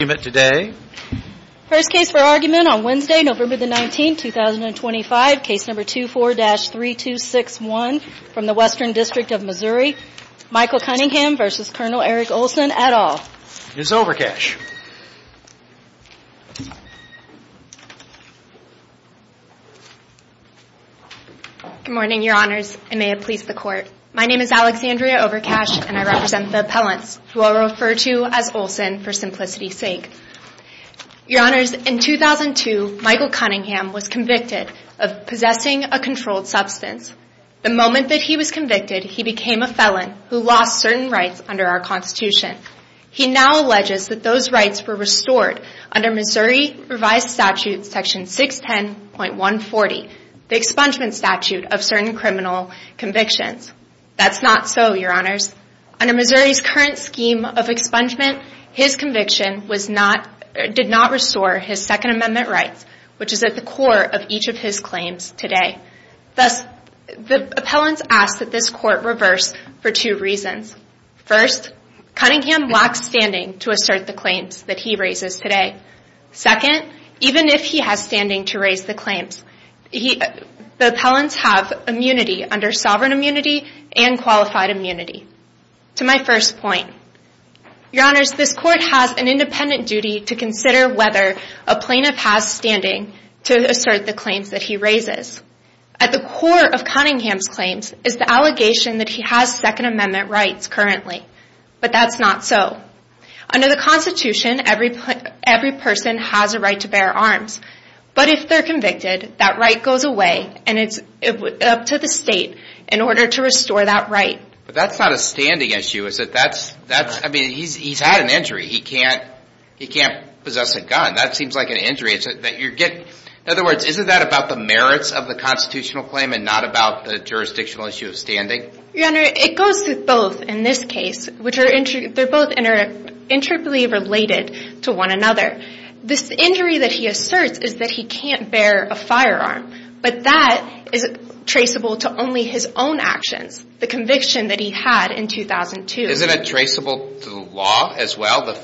First case for argument on Wednesday, November 19, 2025, case number 24-3261 from the Western District of Missouri, Michael Cunningham v. Col. Eric Olson, et al. Ms. Overcash Good morning, your honors. I may have pleased the court. My name is Alexandria Overcash, and I represent the appellants, who I will refer to as Olson for simplicity's sake. Your honors, in 2002, Michael Cunningham was convicted of possessing a controlled substance. The moment that he was convicted, he became a felon who lost certain rights under our Constitution. He now alleges that those rights were restored under Missouri Revised Statute Section 610.140, the expungement statute of certain criminal convictions. That's not so, your honors. Under Missouri's current scheme of expungement, his conviction did not restore his Second Amendment rights, which is at the core of each of his claims today. Thus, the appellants ask that this court reverse for two reasons. First, Cunningham lacks standing to assert the claims that he raises today. Second, even if he has standing to raise the claims, the appellants have immunity under sovereign immunity and qualified immunity. To my first point, your honors, this court has an independent duty to consider whether a plaintiff has standing to assert the claims that he raises. At the core of Cunningham's claims is the allegation that he has Second Amendment rights currently. But that's not so. Under the Constitution, every person has a right to bear arms. But if they're convicted, that right goes away and it's up to the state in order to restore that right. But that's not a standing issue, is it? I mean, he's had an injury. He can't possess a gun. That seems like an injury. In other words, isn't that about the merits of the constitutional claim and not about the jurisdictional issue of standing? Your honor, it goes through both in this case. They're both interplay related to one another. This injury that he asserts is that he can't bear a firearm. But that is traceable to only his own actions, the conviction that he had in 2002. Isn't it traceable to the law as well? The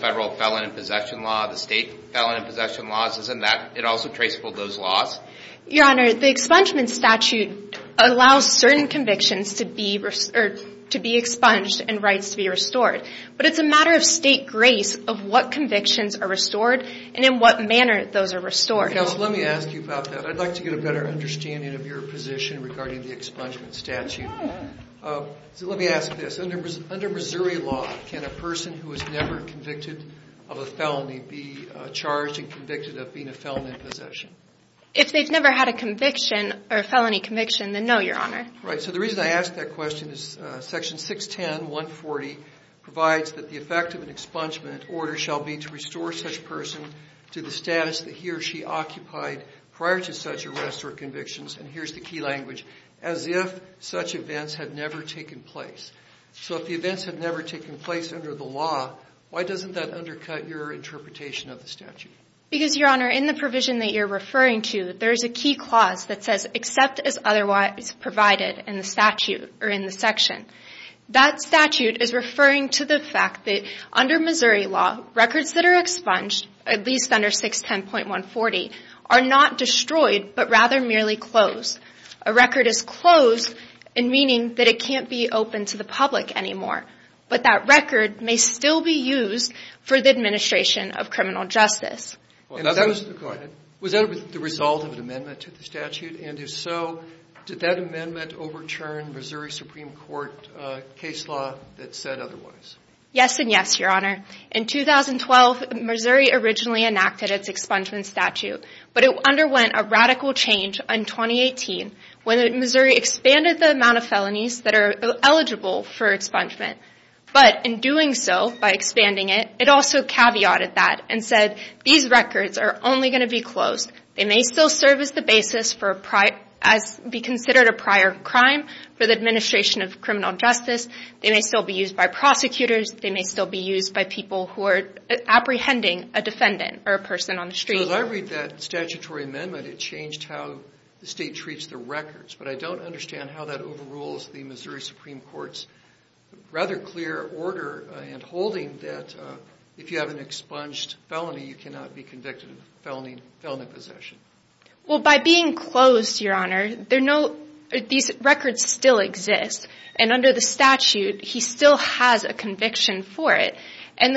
federal felon in possession law, the state felon in possession laws, isn't that also traceable to those laws? Your honor, the expungement statute allows certain convictions to be expunged and rights to be restored. But it's a matter of state grace of what convictions are restored and in what manner those are restored. Let me ask you about that. I'd like to get a better understanding of your position regarding the expungement statute. Let me ask this. Under Missouri law, can a person who is never convicted of a felony be charged and convicted of being a felon in possession? If they've never had a conviction or a felony conviction, then no, your honor. Right. So the reason I ask that question is section 610.140 provides that the effect of an expungement order shall be to restore such person to the status that he or she occupied prior to such arrests or convictions. And here's the key language. As if such events had never taken place. So if the events had never taken place under the law, why doesn't that undercut your interpretation of the statute? Because, your honor, in the provision that you're referring to, there's a key clause that says except as otherwise provided in the statute or in the section. That statute is referring to the fact that under Missouri law, records that are expunged, at least under 610.140, are not destroyed but rather merely closed. A record is closed in meaning that it can't be open to the public anymore. But that record may still be used for the administration of criminal justice. Was that the result of an amendment to the statute? And if so, did that amendment overturn Missouri Supreme Court case law that said otherwise? Yes and yes, your honor. In 2012, Missouri originally enacted its expungement statute. But it underwent a radical change in 2018 when Missouri expanded the amount of felonies that are eligible for expungement. But in doing so, by expanding it, it also caveated that and said these records are only going to be closed. They may still serve as the basis for a prior, as be considered a prior crime for the administration of criminal justice. They may still be used by prosecutors. They may still be used by people who are apprehending a defendant or a person on the street. So as I read that statutory amendment, it changed how the state treats the records. But I don't understand how that overrules the Missouri Supreme Court's rather clear order and holding that if you have an expunged felony, you cannot be convicted of felony possession. Well, by being closed, your honor, these records still exist. And under the statute, he still has a conviction for it. And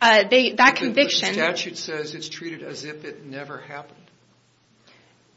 that conviction... The statute says it's treated as if it never happened.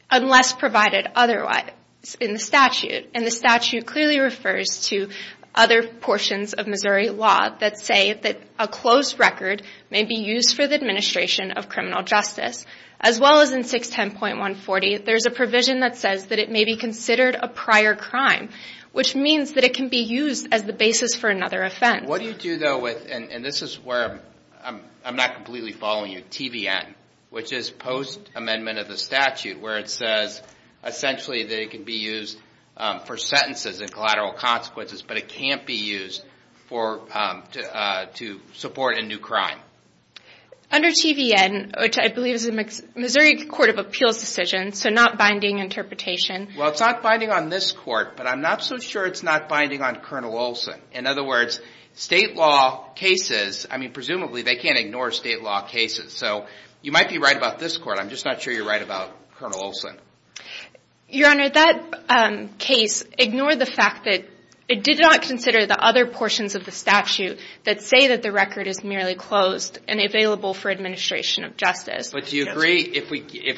Unless provided otherwise in the statute. And the statute clearly refers to other portions of Missouri law that say that a closed record may be used for the administration of criminal justice. As well as in 610.140, there's a provision that says that it may be considered a prior crime, which means that it can be used as the basis for another offense. And this is where I'm not completely following you. TVN, which is post-amendment of the statute, where it says essentially that it can be used for sentences and collateral consequences, but it can't be used to support a new crime. Under TVN, which I believe is the Missouri Court of Appeals decision, so not binding interpretation... Well, it's not binding on this court, but I'm not so sure it's not binding on Colonel Olson. In other words, state law cases, I mean, presumably they can't ignore state law cases. So you might be right about this court, I'm just not sure you're right about Colonel Olson. Your Honor, that case ignored the fact that it did not consider the other portions of the statute that say that the record is merely closed and available for administration of justice. But do you agree if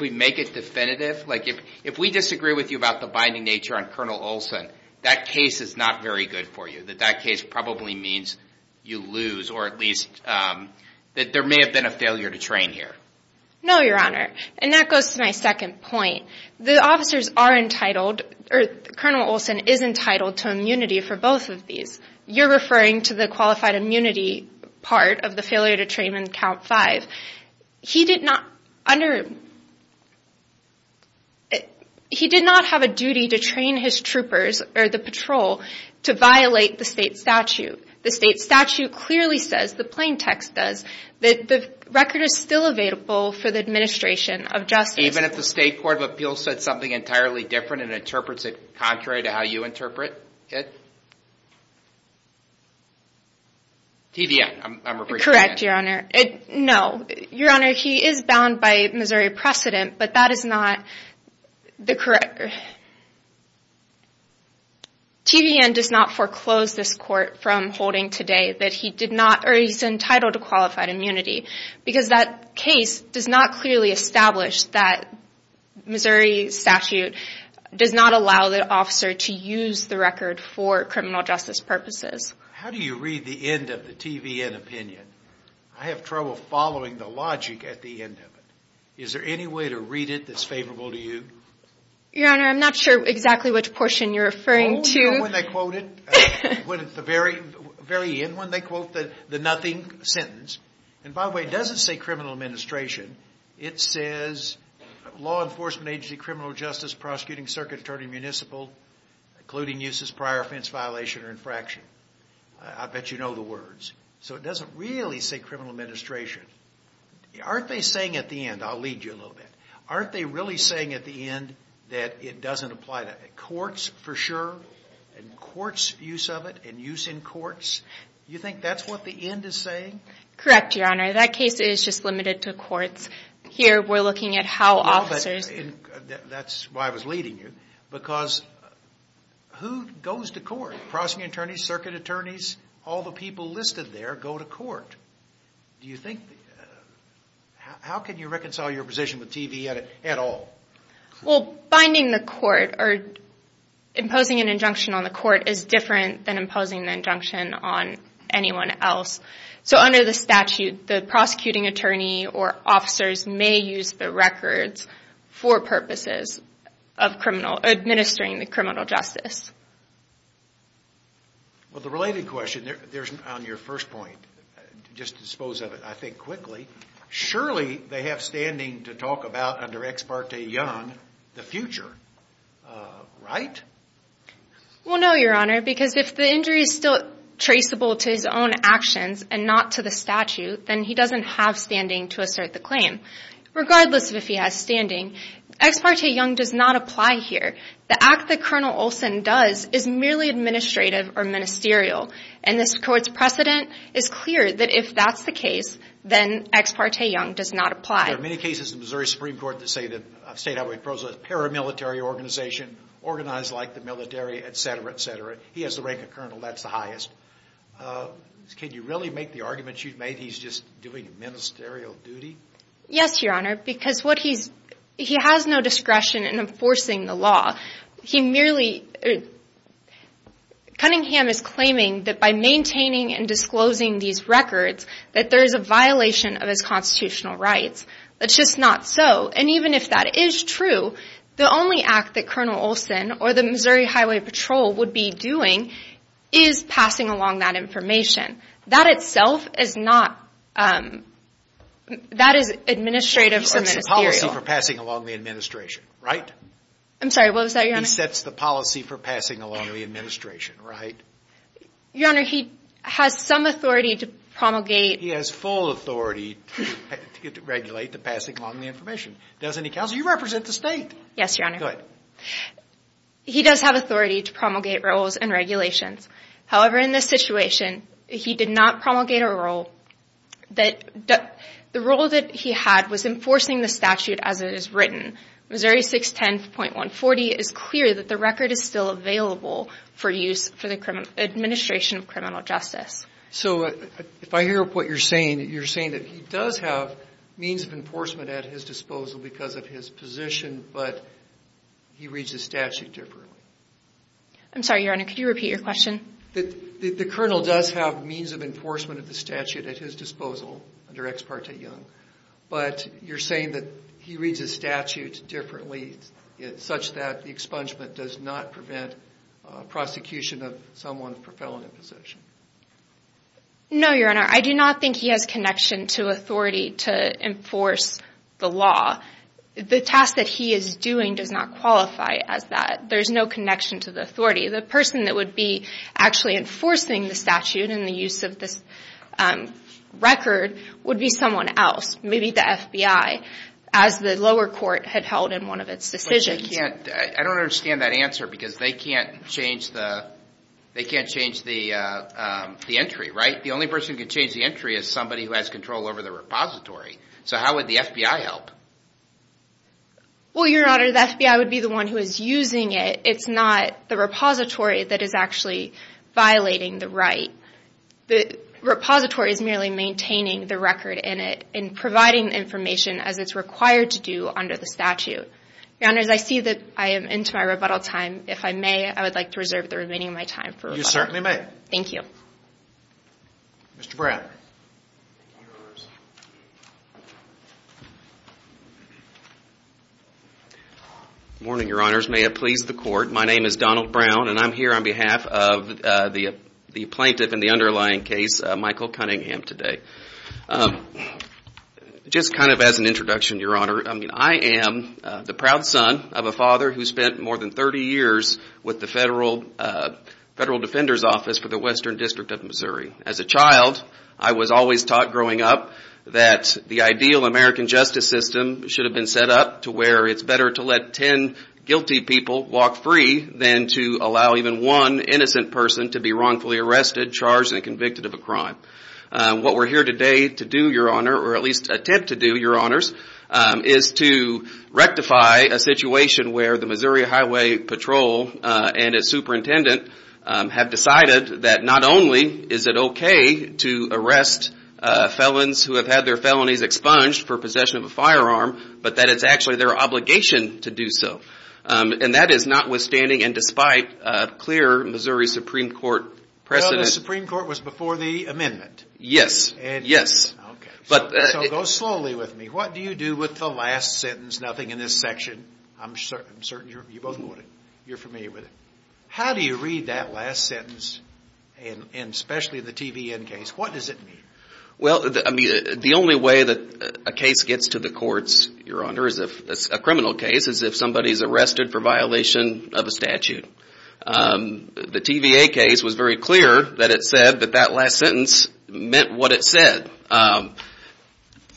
we make it definitive? Like, if we disagree with you about the binding nature on Colonel Olson, that case is not very good for you. That that case probably means you lose, or at least that there may have been a failure to train here. No, Your Honor, and that goes to my second point. The officers are entitled, or Colonel Olson is entitled to immunity for both of these. You're referring to the qualified immunity part of the failure to train in Count 5. He did not have a duty to train his troopers, or the patrol, to violate the state statute. The state statute clearly says, the plain text does, that the record is still available for the administration of justice. Even if the State Court of Appeals said something entirely different and interprets it contrary to how you interpret it? TVN, I'm repeating that. Correct, Your Honor. No, Your Honor, he is bound by Missouri precedent, but that is not the correct... TVN does not foreclose this court from holding today that he did not, or he's entitled to qualified immunity. Because that case does not clearly establish that Missouri statute does not allow the officer to use the record for criminal justice purposes. How do you read the end of the TVN opinion? I have trouble following the logic at the end of it. Is there any way to read it that's favorable to you? Your Honor, I'm not sure exactly which portion you're referring to. You know when they quote it? The very end when they quote the nothing sentence? And by the way, it doesn't say criminal administration. It says, law enforcement agency, criminal justice, prosecuting circuit attorney, municipal, including uses prior offense violation or infraction. I bet you know the words. So it doesn't really say criminal administration. Aren't they saying at the end, I'll lead you a little bit, aren't they really saying at the end that it doesn't apply to courts for sure? And courts' use of it and use in courts? You think that's what the end is saying? Correct, Your Honor. That case is just limited to courts. Here we're looking at how officers... No, but that's why I was leading you. Because who goes to court? Prosecuting attorneys, circuit attorneys, all the people listed there go to court. Do you think, how can you reconcile your position with TVN at all? Well, binding the court or imposing an injunction on the court is different than imposing an injunction on anyone else. So under the statute, the prosecuting attorney or officers may use the records for purposes of criminal, administering the criminal justice. Well, the related question, there's, on your first point, just dispose of it, I think, quickly. Surely, they have standing to talk about, under Ex parte Young, the future, right? Well, no, Your Honor, because if the injury is still traceable to his own actions and not to the statute, then he doesn't have standing to assert the claim. Regardless of if he has standing, Ex parte Young does not apply here. The act that Colonel Olson does is merely administrative or ministerial. And this court's precedent is clear that if that's the case, then Ex parte Young does not apply. There are many cases in Missouri Supreme Court that say that State Highway Prose is a paramilitary organization, organized like the military, etc., etc. He has the rank of colonel, that's the highest. Can you really make the arguments you've made, he's just doing ministerial duty? Yes, Your Honor, because he has no discretion in enforcing the law. Cunningham is claiming that by maintaining and disclosing these records, that there is a violation of his constitutional rights. That's just not so. And even if that is true, the only act that Colonel Olson or the Missouri Highway Patrol would be doing is passing along that information. That itself is not, that is administrative or ministerial. He sets the policy for passing along the administration, right? I'm sorry, what was that, Your Honor? He sets the policy for passing along the administration, right? Your Honor, he has some authority to promulgate. He has full authority to regulate the passing along the information. Doesn't he, Counselor, you represent the State. Yes, Your Honor. Good. He does have authority to promulgate rules and regulations. However, in this situation, he did not promulgate a rule. The rule that he had was enforcing the statute as it is written. Missouri 610.140 is clear that the record is still available for use for the administration of criminal justice. So if I hear what you're saying, you're saying that he does have means of enforcement at his disposal because of his position, but he reads the statute differently. I'm sorry, Your Honor. Could you repeat your question? The Colonel does have means of enforcement of the statute at his disposal under Ex Parte Young. But you're saying that he reads the statute differently such that the expungement does not prevent prosecution of someone for felony possession. No, Your Honor. I do not think he has connection to authority to enforce the law. The task that he is doing does not qualify as that. There is no connection to the authority. The person that would be actually enforcing the statute in the use of this record would be someone else. Maybe the FBI as the lower court had held in one of its decisions. I don't understand that answer because they can't change the entry, right? The only person who can change the entry is somebody who has control over the repository. So how would the FBI help? Well, Your Honor, the FBI would be the one who is using it. It's not the repository that is actually violating the right. The repository is merely maintaining the record in it and providing information as it's required to do under the statute. Your Honors, I see that I am into my rebuttal time. If I may, I would like to reserve the remaining of my time for rebuttal. You certainly may. Thank you. Mr. Brown. Good morning, Your Honors. May it please the court. My name is Donald Brown and I'm here on behalf of the plaintiff in the underlying case, Michael Cunningham, today. Just kind of as an introduction, Your Honor, I am the proud son of a father who spent more than 30 years with the Federal Defender's Office for the Western District of Missouri. As a child, I was always taught growing up that the ideal American justice system should have been set up to where it's better to let ten guilty people walk free than to allow even one innocent person to be wrongfully arrested, charged, and convicted of a crime. What we're here today to do, Your Honor, or at least attempt to do, Your Honors, is to rectify a situation where the Missouri Highway Patrol and its superintendent have decided that not only is it okay to arrest felons who have had their felonies expunged for possession of a firearm, but that it's actually their obligation to do so. And that is notwithstanding and despite clear Missouri Supreme Court precedent. Well, the Supreme Court was before the amendment. Yes. Yes. Okay. So go slowly with me. What do you do with the last sentence? Nothing in this section. I'm certain you're familiar with it. How do you read that last sentence, and especially the TVN case? What does it mean? Well, the only way that a case gets to the courts, Your Honor, is if it's a criminal case, is if somebody's arrested for violation of a statute. The TVA case was very clear that it said that that last sentence meant what it said. And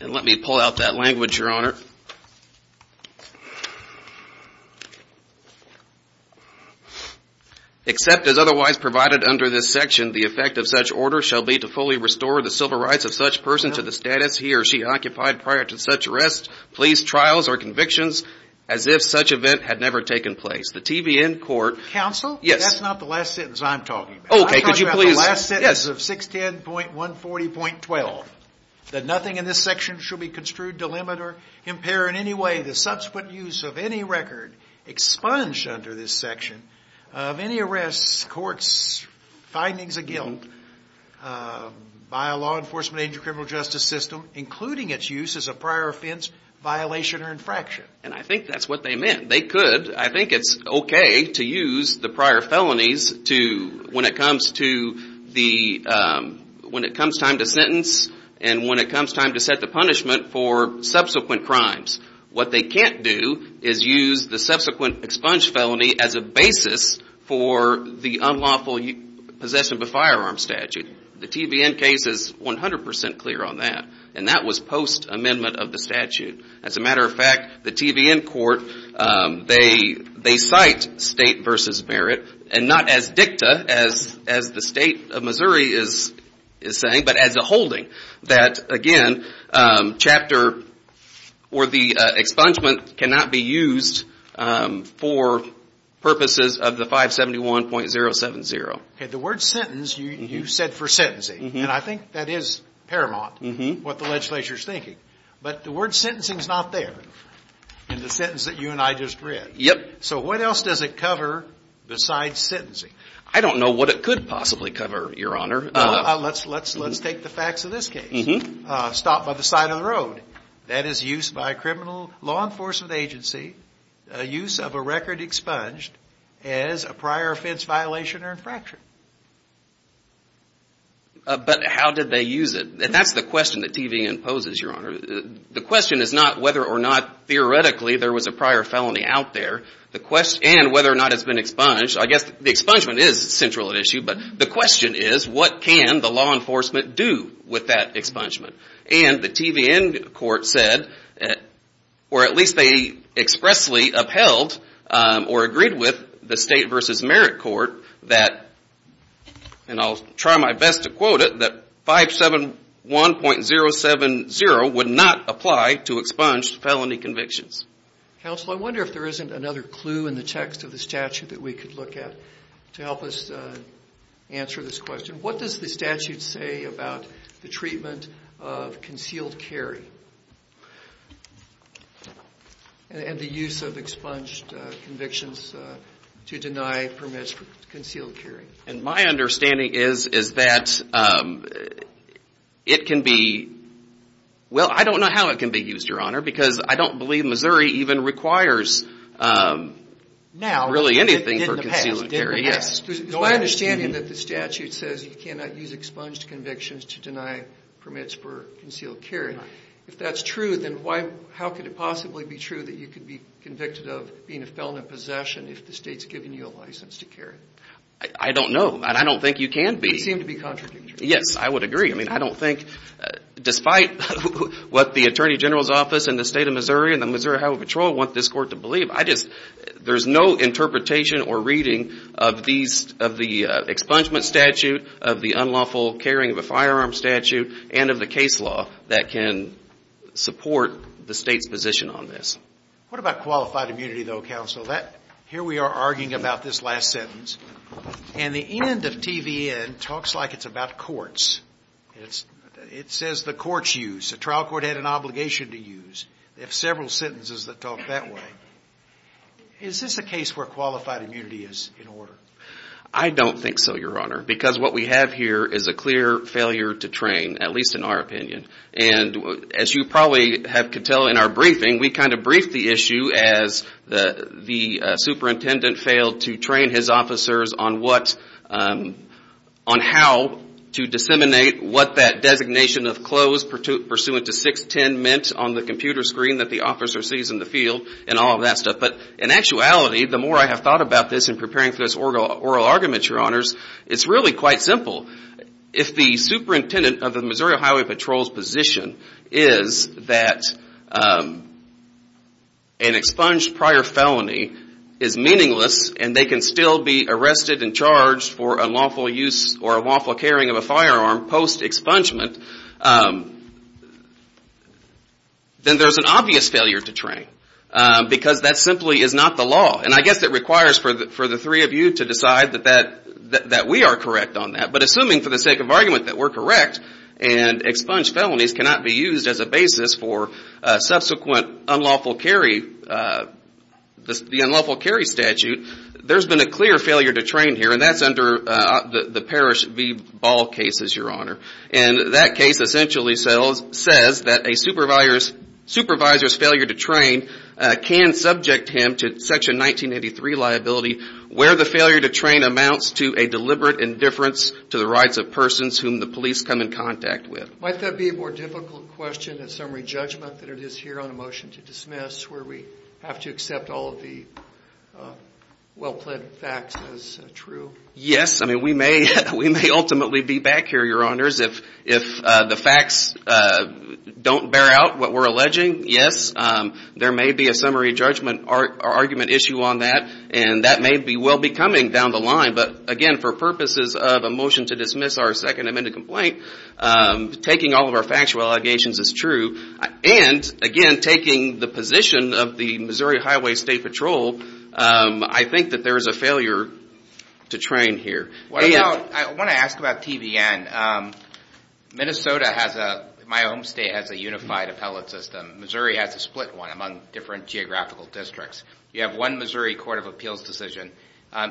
let me pull out that language, Your Honor. Except as otherwise provided under this section, the effect of such order shall be to fully restore the civil rights of such person to the status he or she occupied prior to such arrest, police trials, or convictions as if such event had never taken place. The TVN court Counsel? Yes. That's not the last sentence I'm talking about. Okay. Could you please I'm talking about the last sentence of 610.140.12. That nothing in this section shall be construed to limit or impair in any way the subsequent use of any record expunged under this section of any arrests, courts, findings of guilt by a law enforcement agent criminal justice system, including its use as a prior offense, violation, or infraction. And I think that's what they meant. They could. I think it's okay to use the prior felonies when it comes time to sentence and when it comes time to set the punishment for subsequent crimes. What they can't do is use the subsequent expunged felony as a basis for the unlawful possession of a firearm statute. The TVN case is 100% clear on that. And that was post-amendment of the statute. As a matter of fact, the TVN court, they cite state versus merit, and not as dicta as the state of Missouri is saying, but as a holding. That, again, chapter or the expungement cannot be used for purposes of the 571.070. Okay. The word sentence, you said for sentencing. And I think that is paramount what the legislature is thinking. But the word sentencing is not there in the sentence that you and I just read. Yep. So what else does it cover besides sentencing? I don't know what it could possibly cover, Your Honor. Let's take the facts of this case. Stop by the side of the road. That is used by a criminal law enforcement agency, a use of a record expunged as a prior offense, violation, or infraction. But how did they use it? And that's the question that TVN poses, Your Honor. The question is not whether or not theoretically there was a prior felony out there, and whether or not it's been expunged. I guess the expungement is central at issue, but the question is what can the law enforcement do with that expungement? And the TVN court said, or at least they expressly upheld or agreed with the state versus merit court that, and I'll try my best to quote it, that 571.070 would not apply to expunged felony convictions. Counsel, I wonder if there isn't another clue in the text of the statute that we could look at to help us answer this question. What does the statute say about the treatment of concealed carry and the use of expunged convictions to deny permits for concealed carry? And my understanding is that it can be, well, I don't know how it can be used, Your Honor, because I don't believe Missouri even requires really anything for concealed carry. My understanding is that the statute says you cannot use expunged convictions to deny permits for concealed carry. If that's true, then how could it possibly be true that you could be convicted of being a felon in possession if the state's given you a license to carry? I don't know, and I don't think you can be. They seem to be contradictory. Yes, I would agree. I mean, I don't think, despite what the attorney general's office in the state of Missouri and the Missouri Highway Patrol want this court to believe, there's no interpretation or reading of the expungement statute, of the unlawful carrying of a firearm statute, and of the case law that can support the state's position on this. What about qualified immunity, though, counsel? Here we are arguing about this last sentence, and the end of TVN talks like it's about courts. It says the courts use. The trial court had an obligation to use. They have several sentences that talk that way. Is this a case where qualified immunity is in order? I don't think so, Your Honor, because what we have here is a clear failure to train, at least in our opinion. And as you probably could tell in our briefing, we kind of briefed the issue as the superintendent failed to train his officers on how to disseminate what that designation of clothes pursuant to 610 meant on the computer screen that the officer sees in the field and all of that stuff. But in actuality, the more I have thought about this in preparing for this oral argument, Your Honors, it's really quite simple. If the superintendent of the Missouri Highway Patrol's position is that an expunged prior felony is meaningless and they can still be arrested and charged for unlawful use or unlawful carrying of a firearm post-expungement, then there's an obvious failure to train because that simply is not the law. And I guess it requires for the three of you to decide that we are correct on that. But assuming for the sake of argument that we're correct and expunged felonies cannot be used as a basis for subsequent unlawful carry, the unlawful carry statute, there's been a clear failure to train here, and that's under the Parrish v. Ball case, Your Honor. And that case essentially says that a supervisor's failure to train can subject him to Section 1983 liability where the failure to train amounts to a deliberate indifference to the rights of persons whom the police come in contact with. Might that be a more difficult question, a summary judgment, than it is here on a motion to dismiss where we have to accept all of the well-planned facts as true? Yes. I mean, we may ultimately be back here, Your Honors, if the facts don't bear out what we're alleging. Yes, there may be a summary judgment or argument issue on that, and that may well be coming down the line. But again, for purposes of a motion to dismiss our second amended complaint, taking all of our factual allegations as true, and again, taking the position of the Missouri Highway State Patrol, I think that there is a failure to train here. I want to ask about TBN. Minnesota has a, my home state has a unified appellate system. Missouri has a split one among different geographical districts. You have one Missouri Court of Appeals decision.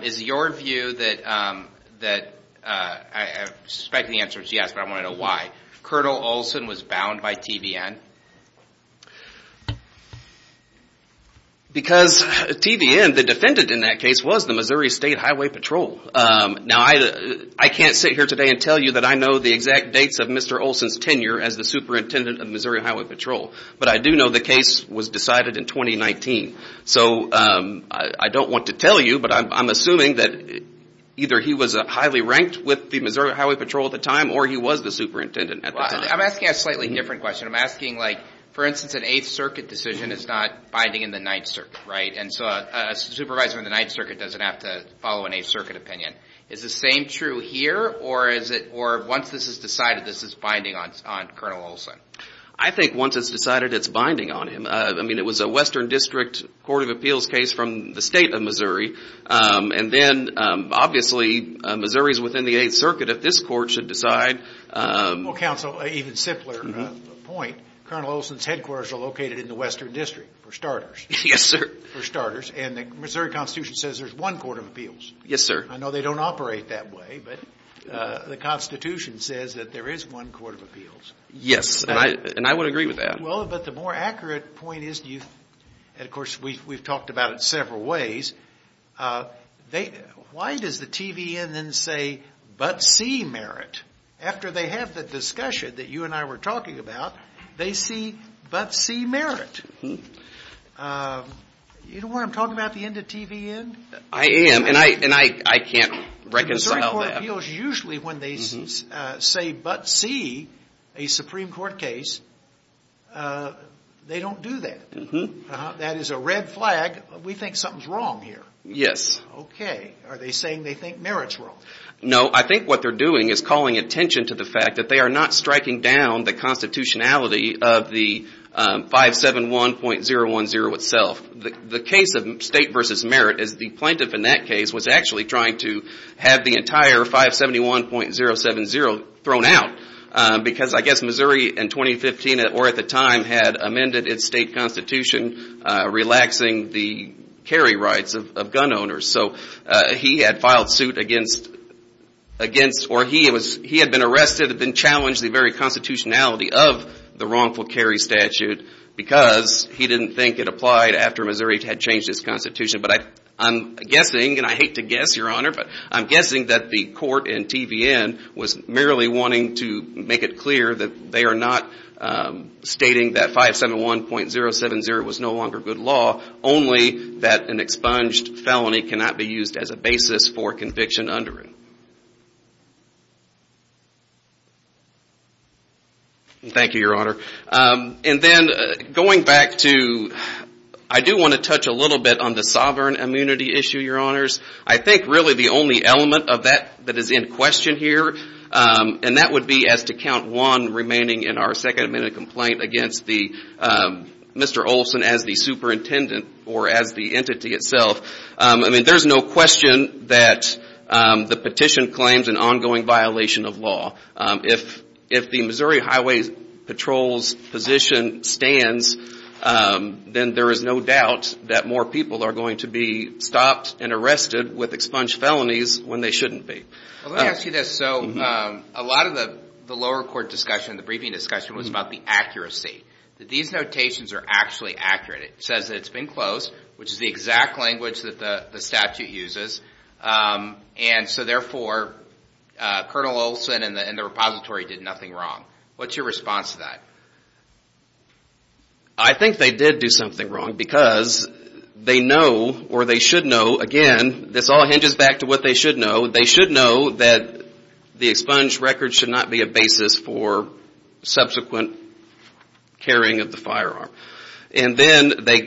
Is your view that, I suspect the answer is yes, but I want to know why. Colonel Olson was bound by TBN? Because TBN, the defendant in that case was the Missouri State Highway Patrol. Now, I can't sit here today and tell you that I know the exact dates of Mr. Olson's tenure as the superintendent of Missouri Highway Patrol. But I do know the case was decided in 2019. So I don't want to tell you, but I'm assuming that either he was highly ranked with the Missouri Highway Patrol at the time, or he was the superintendent at the time. I'm asking a slightly different question. I'm asking like, for instance, an Eighth Circuit decision is not binding in the Ninth Circuit, right? And so a supervisor in the Ninth Circuit doesn't have to follow an Eighth Circuit opinion. Is the same true here, or is it, or once this is decided, this is binding on Colonel Olson? I think once it's decided, it's binding on him. I mean, it was a Western District Court of Appeals case from the state of Missouri. And then, obviously, Missouri is within the Eighth Circuit. If this court should decide— Well, counsel, even simpler point, Colonel Olson's headquarters are located in the Western District, for starters. Yes, sir. For starters, and the Missouri Constitution says there's one Court of Appeals. Yes, sir. I know they don't operate that way, but the Constitution says that there is one Court of Appeals. Yes, and I would agree with that. Well, but the more accurate point is, and, of course, we've talked about it several ways, why does the TVN then say, but see merit? After they have the discussion that you and I were talking about, they see, but see merit. You know what I'm talking about, the end of TVN? I am, and I can't reconcile that. Court of Appeals, usually when they say, but see a Supreme Court case, they don't do that. That is a red flag. We think something's wrong here. Yes. Okay. Are they saying they think merit's wrong? No, I think what they're doing is calling attention to the fact that they are not striking down the constitutionality of the 571.010 itself. The case of state versus merit is the plaintiff in that case was actually trying to have the entire 571.070 thrown out, because I guess Missouri in 2015, or at the time, had amended its state constitution, relaxing the carry rights of gun owners. So he had filed suit against, or he had been arrested and challenged the very constitutionality of the wrongful carry statute, because he didn't think it applied after Missouri had changed its constitution. But I'm guessing, and I hate to guess, Your Honor, but I'm guessing that the court in TVN was merely wanting to make it clear that they are not stating that 571.070 was no longer good law, only that an expunged felony cannot be used as a basis for conviction under it. Thank you, Your Honor. And then going back to, I do want to touch a little bit on the sovereign immunity issue, Your Honors. I think really the only element of that that is in question here, and that would be as to count one remaining in our second amendment complaint against Mr. Olson as the superintendent or as the entity itself. I mean, there's no question that the petition claims an ongoing violation of law. If the Missouri Highway Patrol's position stands, then there is no doubt that more people are going to be stopped and arrested with expunged felonies when they shouldn't be. Well, let me ask you this. So a lot of the lower court discussion, the briefing discussion, was about the accuracy. These notations are actually accurate. It says that it's been closed, which is the exact language that the statute uses. And so therefore, Colonel Olson and the repository did nothing wrong. What's your response to that? I think they did do something wrong because they know or they should know, again, this all hinges back to what they should know. They should know that the expunged records should not be a basis for subsequent carrying of the firearm. And then they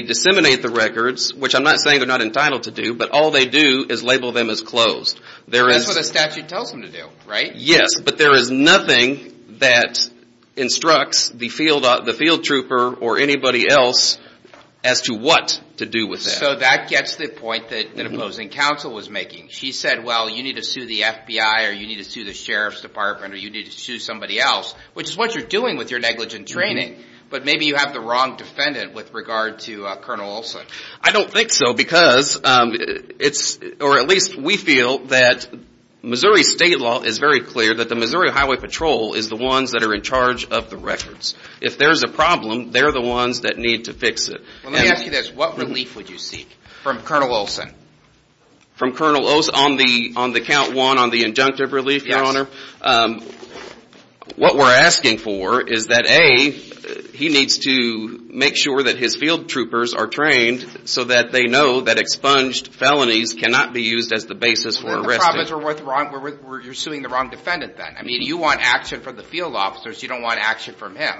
disseminate the records, which I'm not saying they're not entitled to do, but all they do is label them as closed. That's what the statute tells them to do, right? Yes, but there is nothing that instructs the field trooper or anybody else as to what to do with that. So that gets to the point that opposing counsel was making. She said, well, you need to sue the FBI or you need to sue the Sheriff's Department or you need to sue somebody else, which is what you're doing with your negligent training. But maybe you have the wrong defendant with regard to Colonel Olson. I don't think so because it's or at least we feel that Missouri state law is very clear that the Missouri Highway Patrol is the ones that are in charge of the records. If there is a problem, they're the ones that need to fix it. Let me ask you this. What relief would you seek from Colonel Olson? From Colonel Olson, on the count one on the injunctive relief, Your Honor, what we're asking for is that, A, he needs to make sure that his field troopers are trained so that they know that expunged felonies cannot be used as the basis for arresting. The problem is you're suing the wrong defendant then. I mean, you want action from the field officers. You don't want action from him,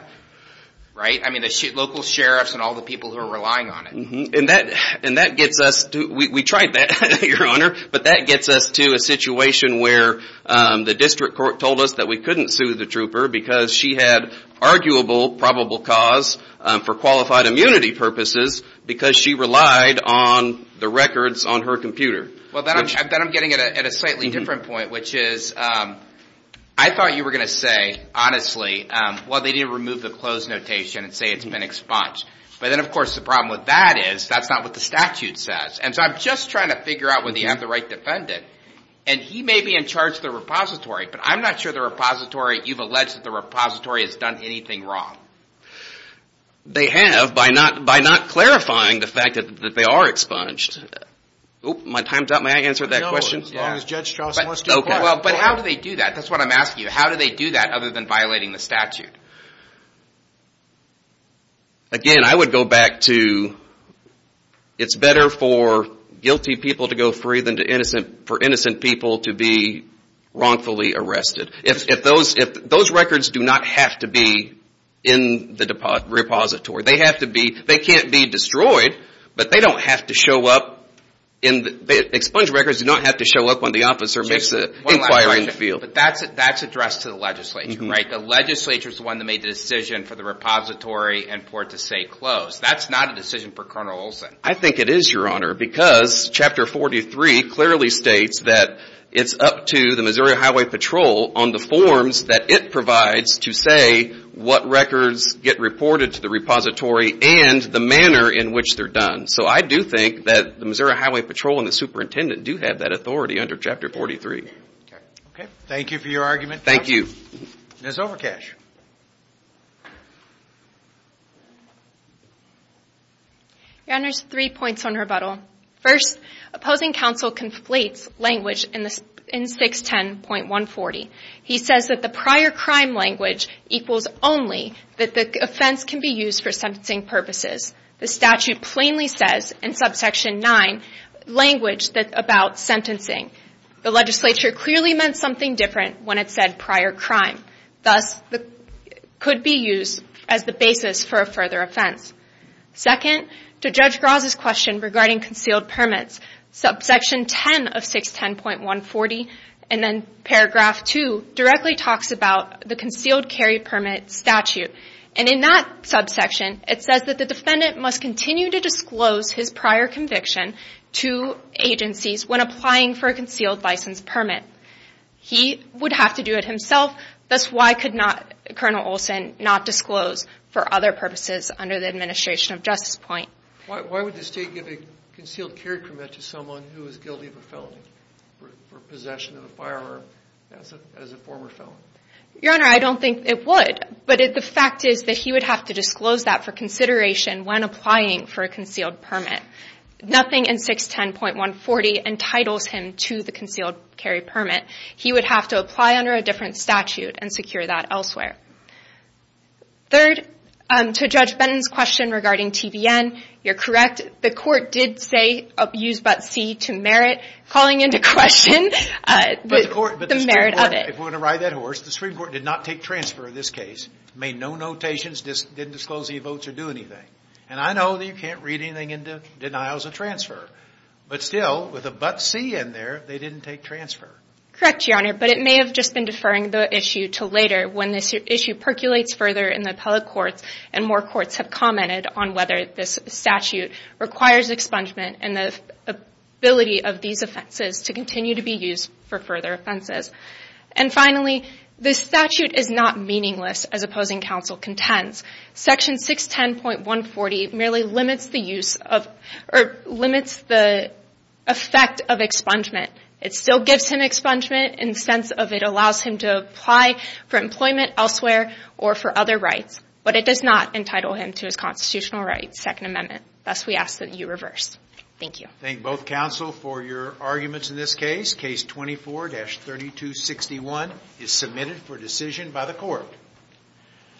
right? I mean, the local sheriffs and all the people who are relying on it. And that gets us to, we tried that, Your Honor, but that gets us to a situation where the district court told us that we couldn't sue the trooper because she had arguable probable cause for qualified immunity purposes because she relied on the records on her computer. Well, then I'm getting at a slightly different point, which is I thought you were going to say, honestly, well, they didn't remove the close notation and say it's been expunged. But then, of course, the problem with that is that's not what the statute says. And so I'm just trying to figure out whether you have the right defendant. And he may be in charge of the repository, but I'm not sure the repository, you've alleged that the repository has done anything wrong. They have by not clarifying the fact that they are expunged. Oh, my time's up. May I answer that question? As long as Judge Strauss wants to. But how do they do that? That's what I'm asking you. How do they do that other than violating the statute? Again, I would go back to it's better for guilty people to go free than for innocent people to be wrongfully arrested. Those records do not have to be in the repository. They can't be destroyed, but they don't have to show up. Expunged records do not have to show up when the officer makes an inquiry in the field. But that's addressed to the legislature. The legislature is the one that made the decision for the repository and for it to stay closed. That's not a decision for Colonel Olson. I think it is, Your Honor, because Chapter 43 clearly states that it's up to the Missouri Highway Patrol on the forms that it provides to say what records get reported to the repository and the manner in which they're done. So I do think that the Missouri Highway Patrol and the superintendent do have that authority under Chapter 43. Thank you for your argument. Thank you. Ms. Overkash. Your Honor, there's three points on rebuttal. First, opposing counsel conflates language in 610.140. He says that the prior crime language equals only that the offense can be used for sentencing purposes. The statute plainly says in subsection 9 language about sentencing. The legislature clearly meant something different when it said prior crime. Thus, it could be used as the basis for a further offense. Second, to Judge Graz's question regarding concealed permits, subsection 10 of 610.140 and then paragraph 2 directly talks about the concealed carry permit statute. And in that subsection, it says that the defendant must continue to disclose his prior conviction to agencies when applying for a concealed license permit. He would have to do it himself. Thus, why could Colonel Olson not disclose for other purposes under the administration of Justice Point? Why would the state give a concealed carry permit to someone who is guilty of a felony for possession of a firearm as a former felon? Your Honor, I don't think it would. But the fact is that he would have to disclose that for consideration when applying for a concealed permit. Nothing in 610.140 entitles him to the concealed carry permit. He would have to apply under a different statute and secure that elsewhere. Third, to Judge Benton's question regarding TVN, you're correct. The court did say use but see to merit calling into question the merit of it. If we're going to ride that horse, the Supreme Court did not take transfer in this case. Made no notations, didn't disclose any votes or do anything. And I know that you can't read anything into denial as a transfer. But still, with a but see in there, they didn't take transfer. Correct, Your Honor. But it may have just been deferring the issue to later when this issue percolates further in the appellate courts and more courts have commented on whether this statute requires expungement and the ability of these offenses to continue to be used for further offenses. And finally, this statute is not meaningless as opposing counsel contends. Section 610.140 merely limits the use of or limits the effect of expungement. It still gives him expungement in the sense of it allows him to apply for employment elsewhere or for other rights. But it does not entitle him to his constitutional rights, Second Amendment. Thus, we ask that you reverse. Thank you. I thank both counsel for your arguments in this case. Case 24-3261 is submitted for decision by the court.